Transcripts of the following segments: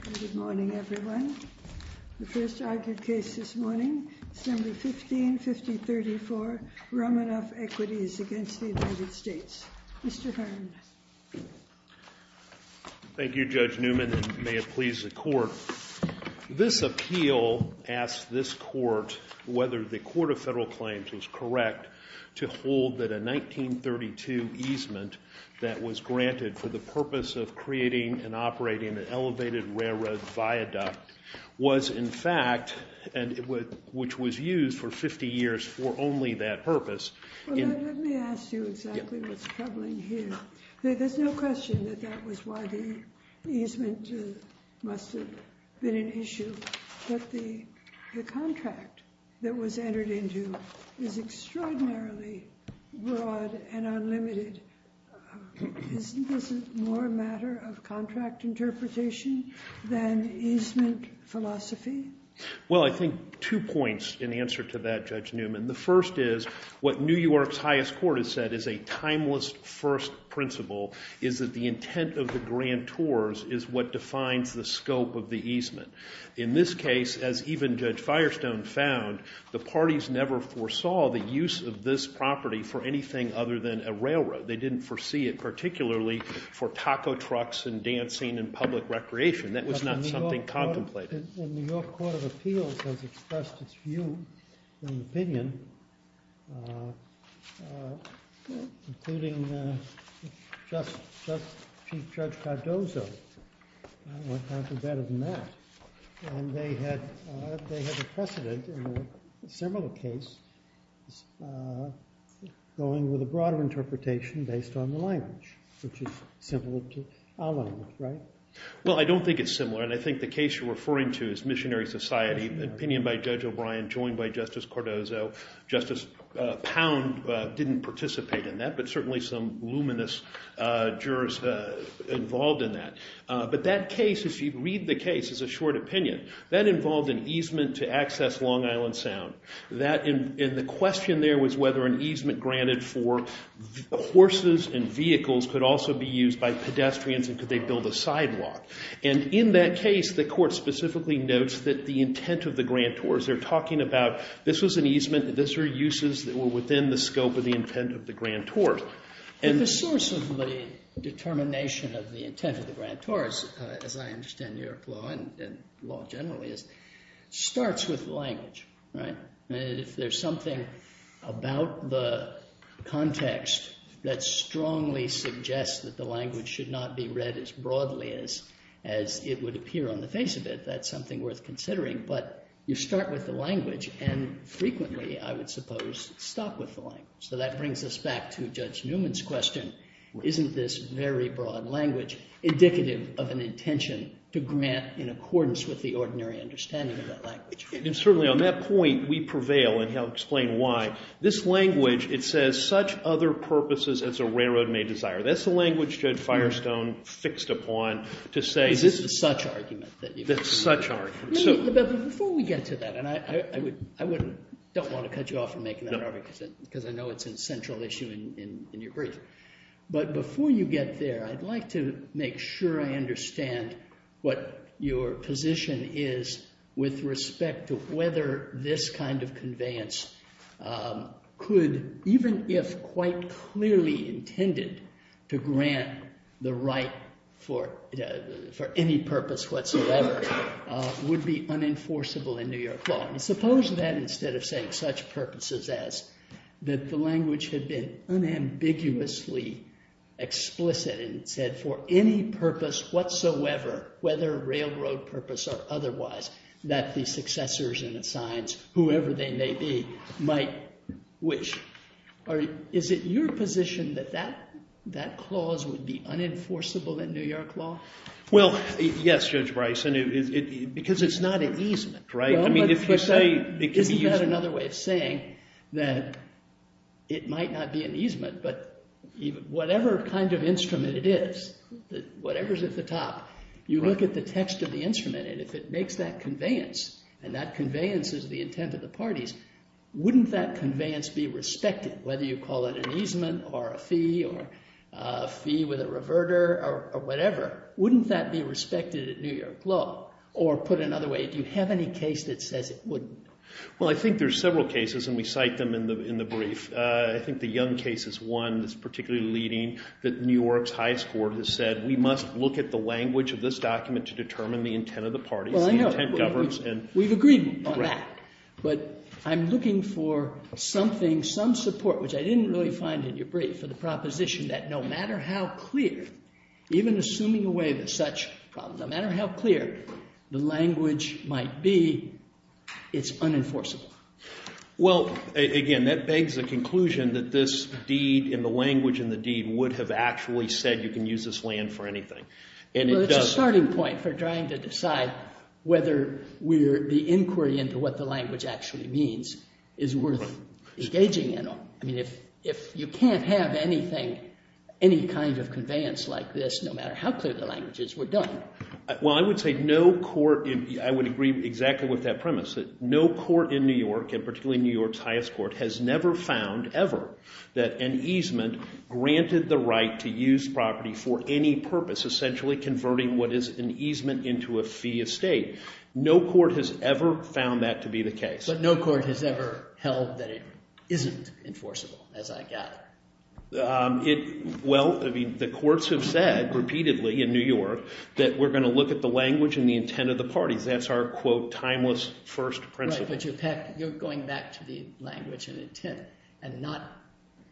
Good morning, everyone. The first argued case this morning, Assembly 1550-34, Romanoff Equities v. United States. Mr. Hearn. Thank you, Judge Newman, and may it please the Court. This appeal asks this Court whether the Court of Federal Claims was correct to hold that a 1932 easement that was granted for the purpose of creating and operating an elevated railroad viaduct was, in fact, which was used for 50 years for only that purpose. Well, let me ask you exactly what's troubling here. There's no question that that was why the easement must have been an issue. But the contract that was entered into is extraordinarily broad and unlimited. Isn't this more a matter of contract interpretation than easement philosophy? Well, I think two points in answer to that, Judge Newman. The first is what New York's highest court has said is a timeless first principle, is that the intent of the grantors is what defines the scope of the easement. In this case, as even Judge Firestone found, the parties never foresaw the use of this property for anything other than a railroad. They didn't foresee it particularly for taco trucks and dancing and public recreation. That was not something contemplated. But the New York Court of Appeals has expressed its view and opinion, including Chief Judge Cardozo. What could be better than that? And they had a precedent in a similar case going with a broader interpretation based on the language, which is similar to our language, right? Well, I don't think it's similar, and I think the case you're referring to is missionary society, an opinion by Judge O'Brien joined by Justice Cardozo. Justice Pound didn't participate in that, but certainly some luminous jurors involved in that. But that case, if you read the case, is a short opinion. That involved an easement to access Long Island Sound, and the question there was whether an easement granted for horses and vehicles could also be used by pedestrians and could they build a sidewalk. And in that case, the court specifically notes that the intent of the grantors, they're talking about this was an easement, that these were uses that were within the scope of the intent of the grantors. And the source of the determination of the intent of the grantors, as I understand New York law and law generally is, starts with language, right? If there's something about the context that strongly suggests that the language should not be read as broadly as it would appear on the face of it, that's something worth considering. But you start with the language and frequently, I would suppose, stop with the language. So that brings us back to Judge Newman's question. Isn't this very broad language indicative of an intention to grant in accordance with the ordinary understanding of that language? And certainly on that point, we prevail, and he'll explain why. This language, it says, such other purposes as a railroad may desire. That's the language Judge Firestone fixed upon to say this is such argument. That's such argument. But before we get to that, and I don't want to cut you off from making that argument because I know it's a central issue in your brief. But before you get there, I'd like to make sure I understand what your position is with respect to whether this kind of conveyance could, even if quite clearly intended, to grant the right for any purpose whatsoever, would be unenforceable in New York law. And suppose that instead of saying such purposes as that the language had been unambiguously explicit and said for any purpose whatsoever, whether railroad purpose or otherwise, that the successors and the signs, whoever they may be, might wish. Is it your position that that clause would be unenforceable in New York law? Well, yes, Judge Bryson, because it's not an easement, right? I mean, if you say it could be easement. Isn't that another way of saying that it might not be an easement, but whatever kind of instrument it is, whatever's at the top, you look at the text of the instrument and if it makes that conveyance, and that conveyance is the intent of the parties, wouldn't that conveyance be respected, whether you call it an easement or a fee or a fee with a reverter or whatever? Wouldn't that be respected at New York law? Or put another way, do you have any case that says it wouldn't? Well, I think there's several cases, and we cite them in the brief. I think the Young case is one that's particularly leading that New York's highest court has said we must look at the language of this document to determine the intent of the parties. The intent governs. We've agreed on that. But I'm looking for something, some support, which I didn't really find in your brief, for the proposition that no matter how clear, even assuming away the such problem, no matter how clear the language might be, it's unenforceable. Well, again, that begs the conclusion that this deed and the language in the deed would have actually said you can use this land for anything. Well, it's a starting point for trying to decide whether the inquiry into what the language actually means is worth engaging in. I mean, if you can't have anything, any kind of conveyance like this, no matter how clear the language is, we're done. Well, I would say no court, I would agree exactly with that premise, that no court in New York, and particularly New York's highest court, has never found ever that an easement granted the right to use property for any purpose, essentially converting what is an easement into a fee estate. No court has ever found that to be the case. But no court has ever held that it isn't enforceable, as I gather. Well, I mean, the courts have said repeatedly in New York that we're going to look at the language and the intent of the parties. That's our, quote, timeless first principle. Right, but you're going back to the language and intent and not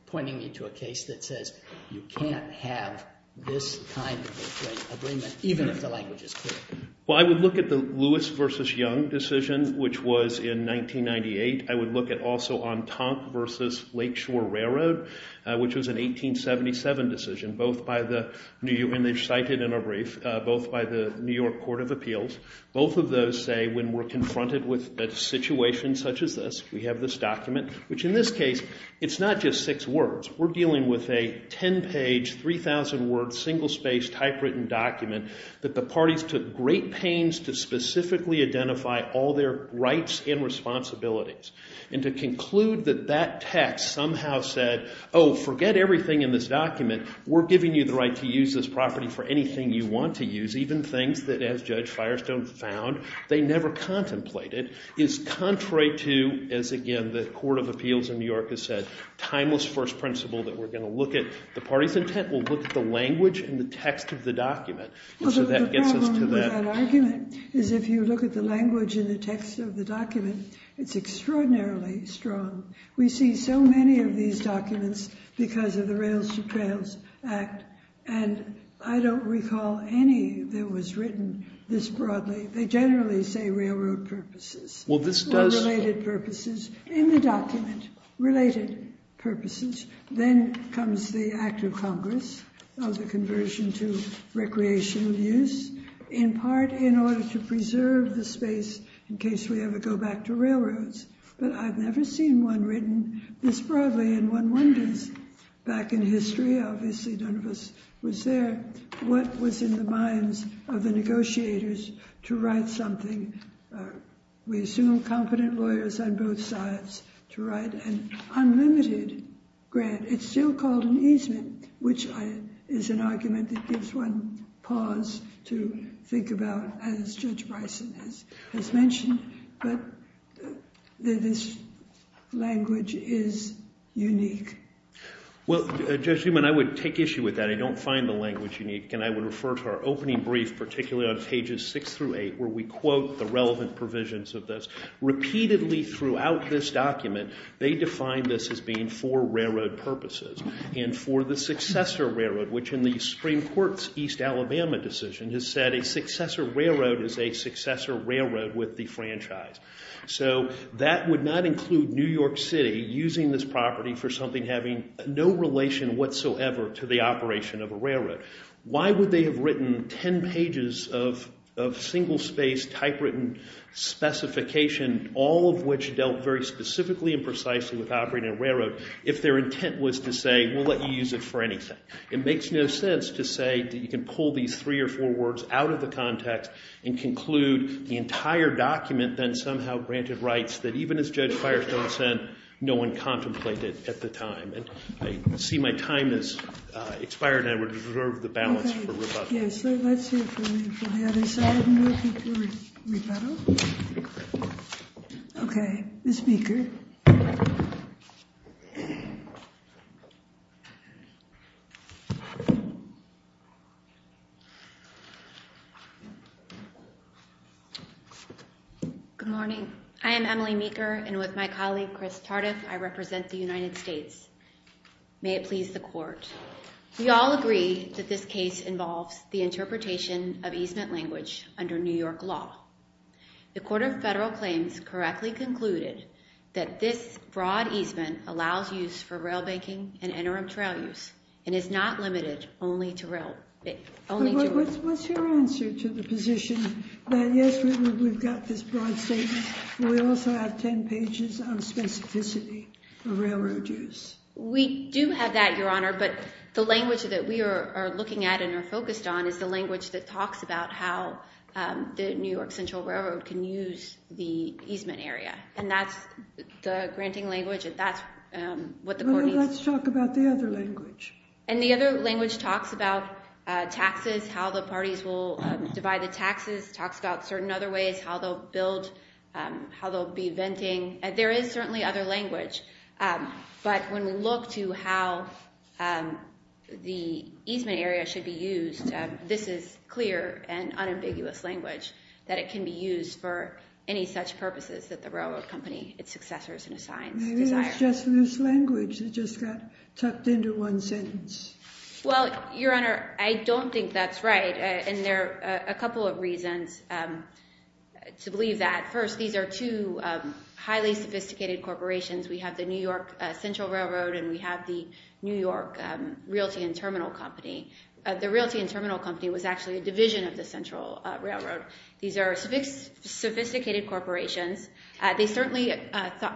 pointing me to a case that says you can't have this kind of agreement even if the language is clear. Well, I would look at the Lewis v. Young decision, which was in 1998. I would look at also Entente v. Lakeshore Railroad, which was an 1877 decision, and they're cited in a brief, both by the New York Court of Appeals. Both of those say when we're confronted with a situation such as this, we have this document, which in this case, it's not just six words. We're dealing with a 10-page, 3,000-word, single-spaced, typewritten document that the parties took great pains to specifically identify all their rights and responsibilities and to conclude that that text somehow said, oh, forget everything in this document. We're giving you the right to use this property for anything you want to use, even things that, as Judge Firestone found, they never contemplated, is contrary to, as again the Court of Appeals in New York has said, timeless first principle that we're going to look at the party's intent. We'll look at the language and the text of the document. So that gets us to that. Well, the problem with that argument is if you look at the language and the text of the document, it's extraordinarily strong. We see so many of these documents because of the Rails to Trails Act, and I don't recall any that was written this broadly. They generally say railroad purposes. Well, this does. Or related purposes. In the document, related purposes. Then comes the act of Congress of the conversion to recreational use, in part in order to preserve the space in case we ever go back to railroads. But I've never seen one written this broadly, and one wonders. Back in history, obviously none of us was there, what was in the minds of the negotiators to write something? We assume competent lawyers on both sides to write an unlimited grant. It's still called an easement, which is an argument that gives one pause to think about, as Judge Bryson has mentioned. But this language is unique. Well, Judge Newman, I would take issue with that. I don't find the language unique, and I would refer to our opening brief, particularly on pages 6 through 8, where we quote the relevant provisions of this. Repeatedly throughout this document, they define this as being for railroad purposes, and for the successor railroad, which in the Supreme Court's East Alabama decision has said a successor railroad is a successor railroad with the franchise. So that would not include New York City using this property for something having no relation whatsoever to the operation of a railroad. Why would they have written ten pages of single-space typewritten specification, all of which dealt very specifically and precisely with operating a railroad, if their intent was to say, well, let me use it for anything? It makes no sense to say that you can pull these three or four words out of the context and conclude the entire document, then somehow granted rights, that even as Judge Firestone said, no one contemplated at the time. And I see my time has expired, and I would reserve the balance for rebuttal. Yes, so let's hear from the other side, and we'll go for rebuttal. Okay, Ms. Meeker. Good morning. I am Emily Meeker, and with my colleague, Chris Tardif, I represent the United States. May it please the Court. We all agree that this case involves the interpretation of easement language under New York law. The Court of Federal Claims correctly concluded that this broad easement allows use for rail banking and interim trail use and is not limited only to rail. What's your answer to the position that, yes, we've got this broad statement, but we also have ten pages on specificity of railroad use? We do have that, Your Honor, but the language that we are looking at and are focused on is the language that talks about how the New York Central Railroad can use the easement area, and that's the granting language, and that's what the Court needs. Let's talk about the other language. And the other language talks about taxes, how the parties will divide the taxes, talks about certain other ways, how they'll build, how they'll be venting. There is certainly other language, but when we look to how the easement area should be used, this is clear and unambiguous language that it can be used for any such purposes that the railroad company, its successors, and assigns desire. Maybe it's just this language that just got tucked into one sentence. Well, Your Honor, I don't think that's right, and there are a couple of reasons to believe that. First, these are two highly sophisticated corporations. We have the New York Central Railroad and we have the New York Realty and Terminal Company. The Realty and Terminal Company was actually a division of the Central Railroad. These are sophisticated corporations. They certainly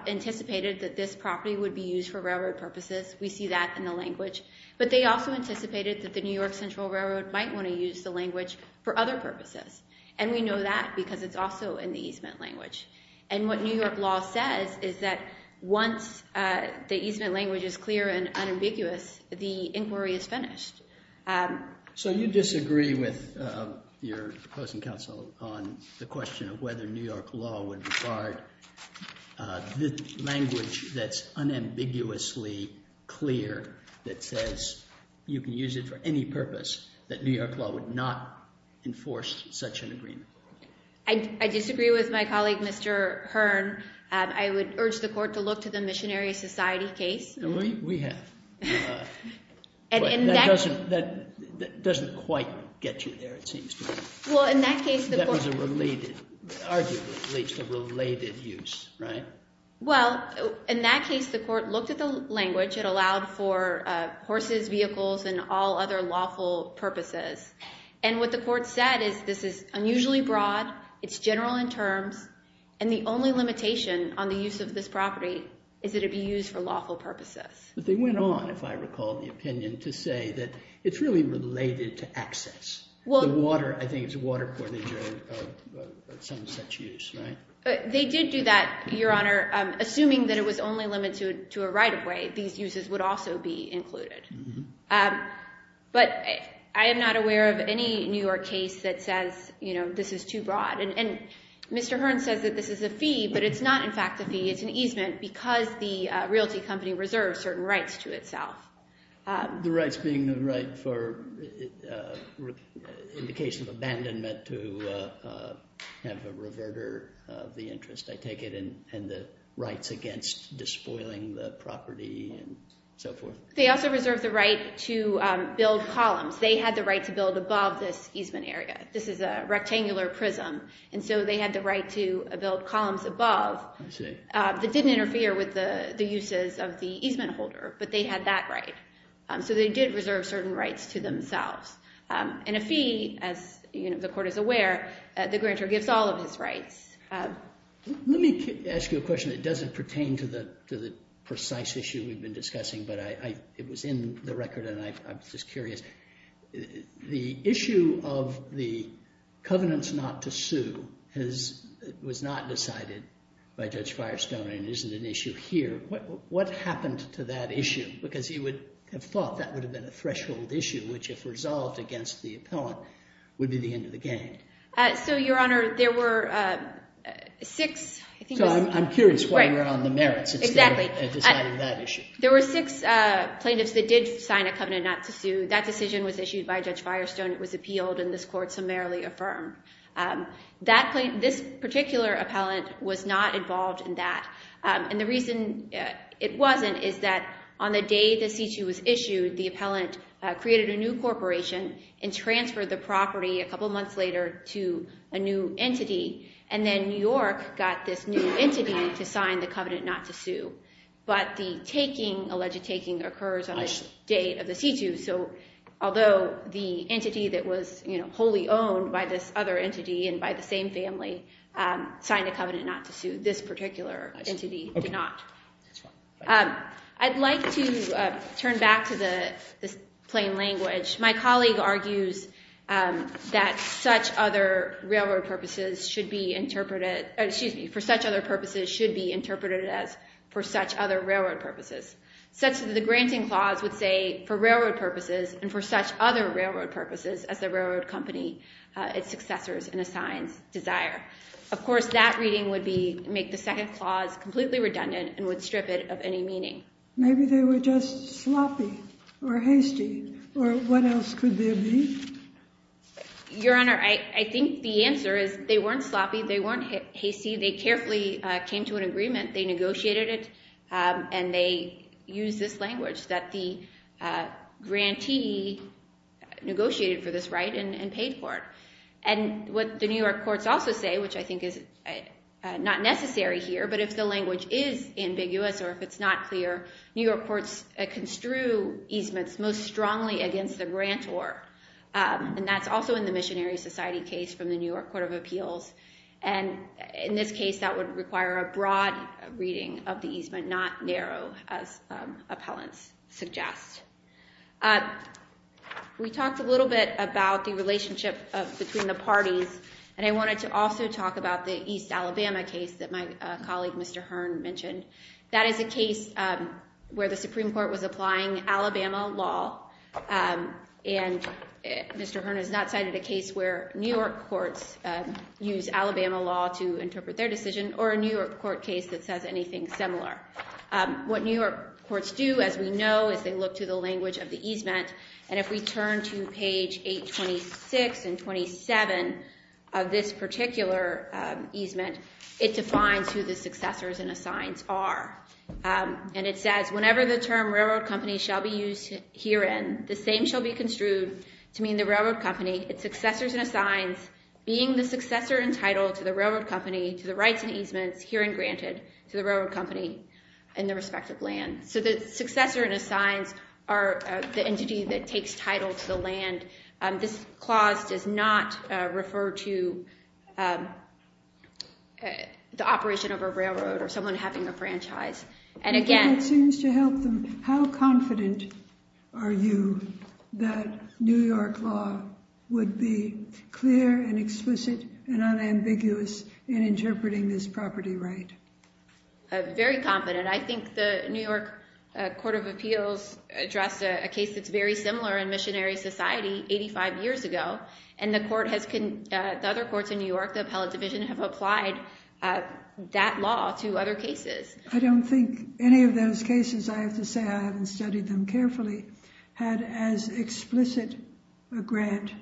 anticipated that this property would be used for railroad purposes. We see that in the language. But they also anticipated that the New York Central Railroad might want to use the language for other purposes, and we know that because it's also in the easement language. And what New York law says is that once the easement language is clear and unambiguous, the inquiry is finished. So you disagree with your opposing counsel on the question of whether New York law would require the language that's unambiguously clear that says you can use it for any purpose, that New York law would not enforce such an agreement? I disagree with my colleague, Mr. Hearn. I would urge the court to look to the Missionary Society case. We have. But that doesn't quite get you there, it seems to me. Well, in that case, the court— That was a related—arguably relates to related use, right? Well, in that case, the court looked at the language. Which it allowed for horses, vehicles, and all other lawful purposes. And what the court said is this is unusually broad, it's general in terms, and the only limitation on the use of this property is that it be used for lawful purposes. But they went on, if I recall the opinion, to say that it's really related to access. The water, I think, is a water-poorly drug of some such use, right? They did do that, Your Honor, assuming that it was only limited to a right-of-way. These uses would also be included. But I am not aware of any New York case that says, you know, this is too broad. And Mr. Hearn says that this is a fee, but it's not, in fact, a fee. It's an easement because the realty company reserves certain rights to itself. The rights being the right for indication of abandonment to have a reverter of the interest, I take it, and the rights against despoiling the property and so forth. They also reserve the right to build columns. They had the right to build above this easement area. This is a rectangular prism. And so they had the right to build columns above that didn't interfere with the uses of the easement holder. But they had that right. So they did reserve certain rights to themselves. And a fee, as the court is aware, the grantor gives all of his rights. Let me ask you a question that doesn't pertain to the precise issue we've been discussing, but it was in the record and I was just curious. The issue of the covenants not to sue was not decided by Judge Firestone and isn't an issue here. What happened to that issue? Because you would have thought that would have been a threshold issue, which if resolved against the appellant would be the end of the game. So, Your Honor, there were six. So I'm curious why you're on the merits instead of deciding that issue. There were six plaintiffs that did sign a covenant not to sue. That decision was issued by Judge Firestone. It was appealed and this court summarily affirmed. This particular appellant was not involved in that. And the reason it wasn't is that on the day the C-2 was issued, the appellant created a new corporation and transferred the property a couple months later to a new entity. And then New York got this new entity to sign the covenant not to sue. But the taking, alleged taking, occurs on the date of the C-2. So although the entity that was wholly owned by this other entity and by the same family signed a covenant not to sue, this particular entity did not. I'd like to turn back to the plain language. My colleague argues that for such other purposes should be interpreted as for such other railroad purposes, such that the granting clause would say for railroad purposes and for such other railroad purposes as the railroad company, its successors, and assigns desire. Of course, that reading would make the second clause completely redundant and would strip it of any meaning. Maybe they were just sloppy or hasty or what else could there be? Your Honor, I think the answer is they weren't sloppy. They weren't hasty. They carefully came to an agreement. They negotiated it. And they used this language that the grantee negotiated for this right and paid for it. And what the New York courts also say, which I think is not necessary here, but if the language is ambiguous or if it's not clear, New York courts construe easements most strongly against the grantor. And that's also in the Missionary Society case from the New York Court of Appeals. And in this case, that would require a broad reading of the easement, not narrow, as appellants suggest. We talked a little bit about the relationship between the parties. And I wanted to also talk about the East Alabama case that my colleague, Mr. Hearn, mentioned. That is a case where the Supreme Court was applying Alabama law. And Mr. Hearn has not cited a case where New York courts use Alabama law to interpret their decision or a New York court case that says anything similar. What New York courts do, as we know, is they look to the language of the easement. And if we turn to page 826 and 827 of this particular easement, it defines who the successors and assigns are. And it says, whenever the term railroad company shall be used herein, the same shall be construed to mean the railroad company, its successors and assigns, being the successor entitled to the railroad company, to the rights and easements herein granted to the railroad company and the respective land. So the successor and assigns are the entity that takes title to the land. This clause does not refer to the operation of a railroad or someone having a franchise. And again, it seems to help them. How confident are you that New York law would be clear and explicit and unambiguous in interpreting this property right? Very confident. I think the New York Court of Appeals addressed a case that's very similar in missionary society 85 years ago. And the other courts in New York, the appellate division, have applied that law to other cases. I don't think any of those cases, I have to say I haven't studied them carefully, had as explicit a grant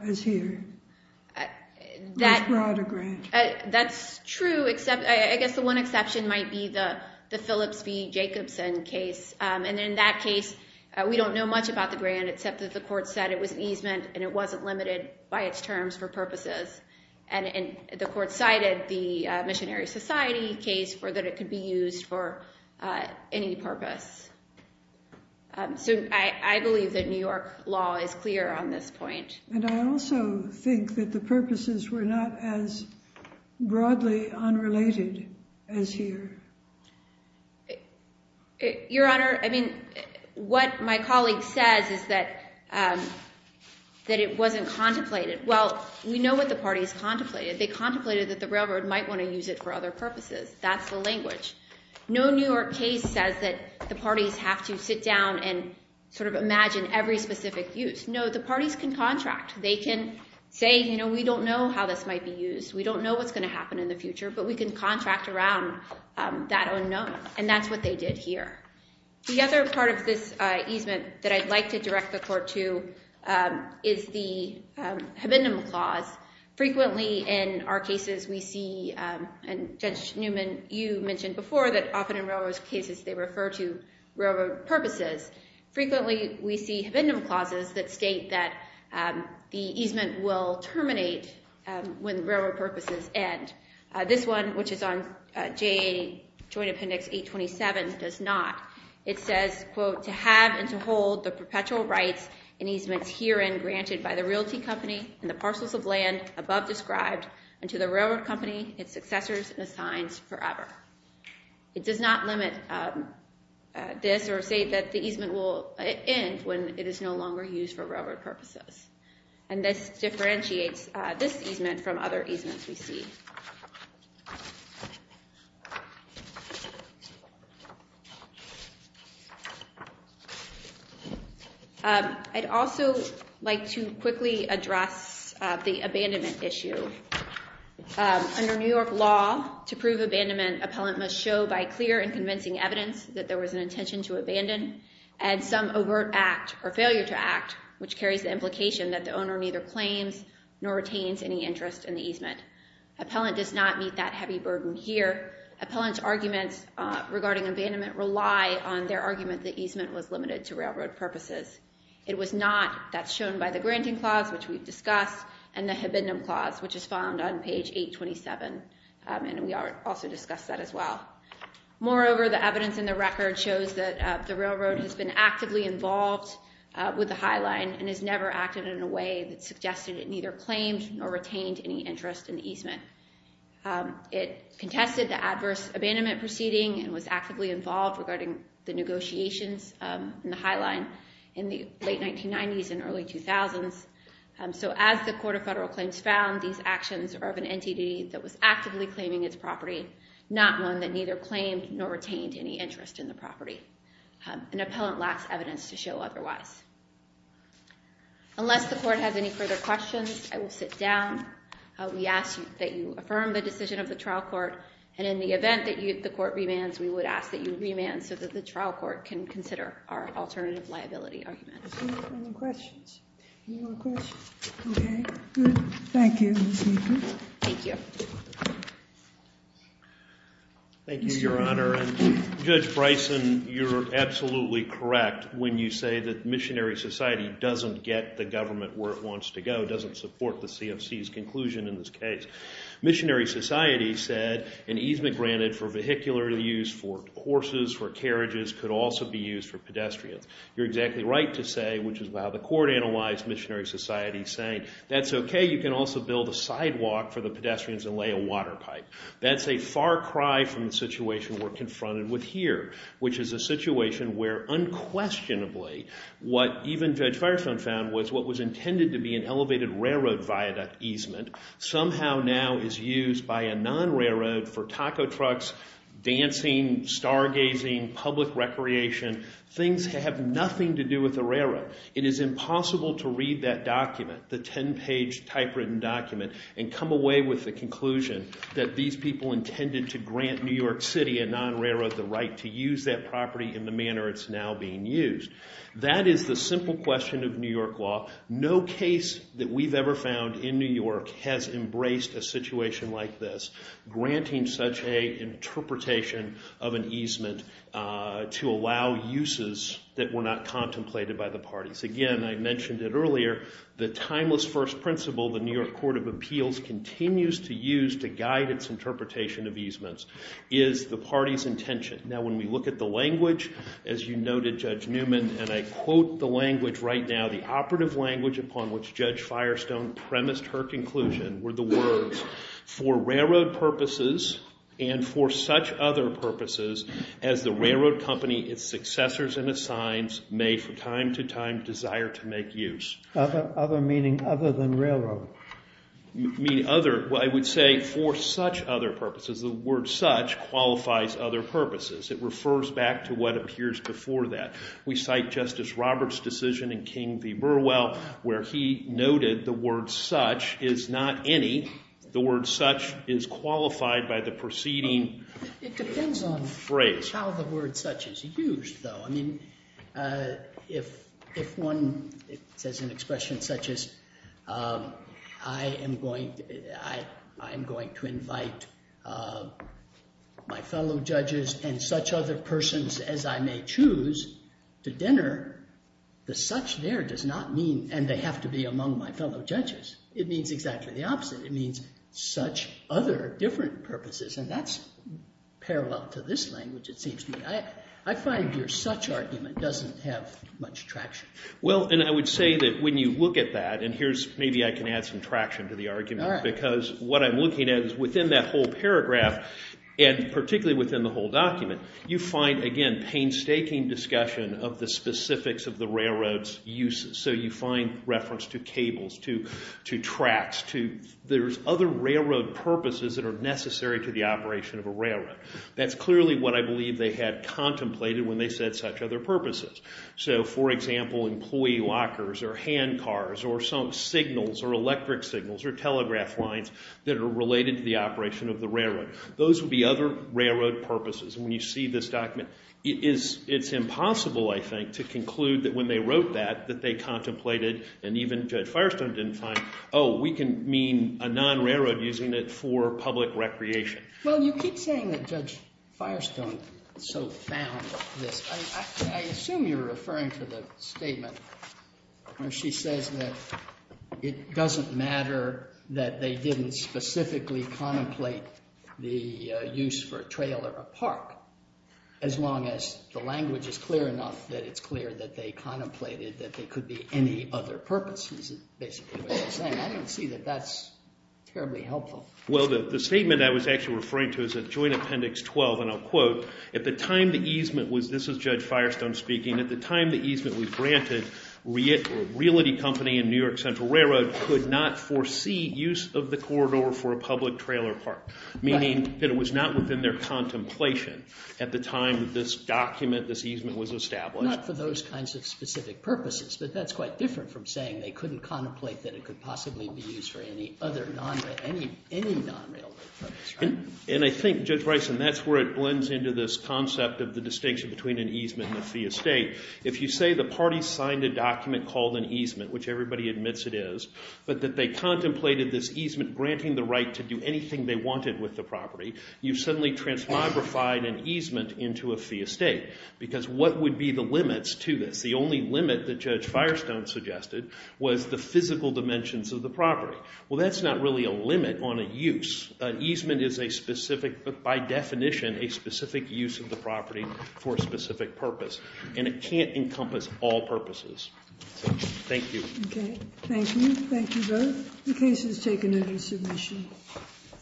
as here. As broad a grant. That's true, except I guess the one exception might be the Phillips v. Jacobson case. And in that case, we don't know much about the grant except that the court said it was an easement and it wasn't limited by its terms for purposes. And the court cited the missionary society case for that it could be used for any purpose. So I believe that New York law is clear on this point. And I also think that the purposes were not as broadly unrelated as here. Your Honor, I mean, what my colleague says is that it wasn't contemplated. Well, we know what the parties contemplated. They contemplated that the railroad might want to use it for other purposes. That's the language. No New York case says that the parties have to sit down and sort of imagine every specific use. No, the parties can contract. They can say, you know, we don't know how this might be used. We don't know what's going to happen in the future. But we can contract around that unknown. And that's what they did here. The other part of this easement that I'd like to direct the court to is the habendum clause. Frequently in our cases we see, and Judge Newman, you mentioned before, that often in railroad cases they refer to railroad purposes. Frequently we see habendum clauses that state that the easement will terminate when the railroad purposes end. This one, which is on JA Joint Appendix 827, does not. It says, quote, to have and to hold the perpetual rights and easements herein granted by the realty company and the parcels of land above described and to the railroad company its successors and assigns forever. It does not limit this or say that the easement will end when it is no longer used for railroad purposes. And this differentiates this easement from other easements we see. I'd also like to quickly address the abandonment issue. Under New York law, to prove abandonment, appellant must show by clear and convincing evidence that there was an intention to abandon and some overt act or failure to act, which carries the implication that the owner neither claims nor retains any interest in the easement. Appellant does not meet that heavy burden here. Appellant's arguments regarding abandonment rely on their argument that easement was limited to railroad purposes. It was not. That's shown by the granting clause, which we've discussed, and the habendum clause, which is found on page 827, and we also discussed that as well. Moreover, the evidence in the record shows that the railroad has been actively involved with the High Line and has never acted in a way that suggested it neither claimed nor retained any interest in the easement. It contested the adverse abandonment proceeding and was actively involved regarding the negotiations in the High Line. In the late 1990s and early 2000s. So as the Court of Federal Claims found, these actions are of an entity that was actively claiming its property, not one that neither claimed nor retained any interest in the property. An appellant lacks evidence to show otherwise. Unless the court has any further questions, I will sit down. We ask that you affirm the decision of the trial court, and in the event that the court remands, we would ask that you remand so that the trial court can consider our alternative liability argument. Any more questions? Okay, good. Thank you. Thank you. Thank you, Your Honor, and Judge Bryson, you're absolutely correct when you say that missionary society doesn't get the government where it wants to go, doesn't support the CFC's conclusion in this case. Missionary society said an easement granted for vehicular use, for horses, for carriages, could also be used for pedestrians. You're exactly right to say, which is how the court analyzed missionary society, saying that's okay, you can also build a sidewalk for the pedestrians and lay a water pipe. That's a far cry from the situation we're confronted with here, which is a situation where unquestionably what even Judge Firestone found was what was intended to be an elevated railroad viaduct easement somehow now is used by a non-railroad for taco trucks, dancing, stargazing, public recreation. Things have nothing to do with the railroad. It is impossible to read that document, the 10-page typewritten document, and come away with the conclusion that these people intended to grant New York City, a non-railroad, the right to use that property in the manner it's now being used. That is the simple question of New York law. No case that we've ever found in New York has embraced a situation like this, granting such an interpretation of an easement to allow uses that were not contemplated by the parties. Again, I mentioned it earlier, the timeless first principle the New York Court of Appeals continues to use to guide its interpretation of easements is the party's intention. Now when we look at the language, as you noted, Judge Newman, and I quote the language right now, the operative language upon which Judge Firestone premised her conclusion were the words, for railroad purposes and for such other purposes as the railroad company, its successors and its signs may for time to time desire to make use. Other meaning other than railroad. I would say for such other purposes. The word such qualifies other purposes. It refers back to what appears before that. We cite Justice Roberts' decision in King v. Burwell where he noted the word such is not any. The word such is qualified by the preceding phrase. It depends on how the word such is used, though. If one says an expression such as I am going to invite my fellow judges and such other persons as I may choose to dinner, the such there does not mean, and they have to be among my fellow judges. It means exactly the opposite. It means such other different purposes, and that's parallel to this language, it seems to me. I find your such argument doesn't have much traction. Well, and I would say that when you look at that, and here's maybe I can add some traction to the argument. Because what I'm looking at is within that whole paragraph and particularly within the whole document, you find, again, painstaking discussion of the specifics of the railroad's uses. So you find reference to cables, to tracks, to there's other railroad purposes that are necessary to the operation of a railroad. That's clearly what I believe they had contemplated when they said such other purposes. So, for example, employee lockers or hand cars or some signals or electric signals or telegraph lines that are related to the operation of the railroad. Those would be other railroad purposes. And when you see this document, it's impossible, I think, to conclude that when they wrote that, that they contemplated and even Judge Firestone didn't find, oh, we can mean a non-railroad using it for public recreation. Well, you keep saying that Judge Firestone so found this. I assume you're referring to the statement where she says that it doesn't matter that they didn't specifically contemplate the use for a trail or a park as long as the language is clear enough that it's clear that they contemplated that there could be any other purposes, is basically what you're saying. I don't see that that's terribly helpful. Well, the statement I was actually referring to is at Joint Appendix 12, and I'll quote, at the time the easement was, this is Judge Firestone speaking, at the time the easement was granted, Realty Company and New York Central Railroad could not foresee use of the corridor for a public trail or park, meaning that it was not within their contemplation at the time that this document, this easement was established. Not for those kinds of specific purposes, but that's quite different from saying they couldn't contemplate that it could possibly be used for any other non-railroad purpose, right? And I think, Judge Bryson, that's where it blends into this concept of the distinction between an easement and a fee estate. If you say the parties signed a document called an easement, which everybody admits it is, but that they contemplated this easement granting the right to do anything they wanted with the property, you've suddenly transmogrified an easement into a fee estate, because what would be the limits to this? The only limit that Judge Firestone suggested was the physical dimensions of the property. Well, that's not really a limit on a use. An easement is a specific, by definition, a specific use of the property for a specific purpose, and it can't encompass all purposes. Thank you. Okay, thank you. Thank you both. The case is taken under submission.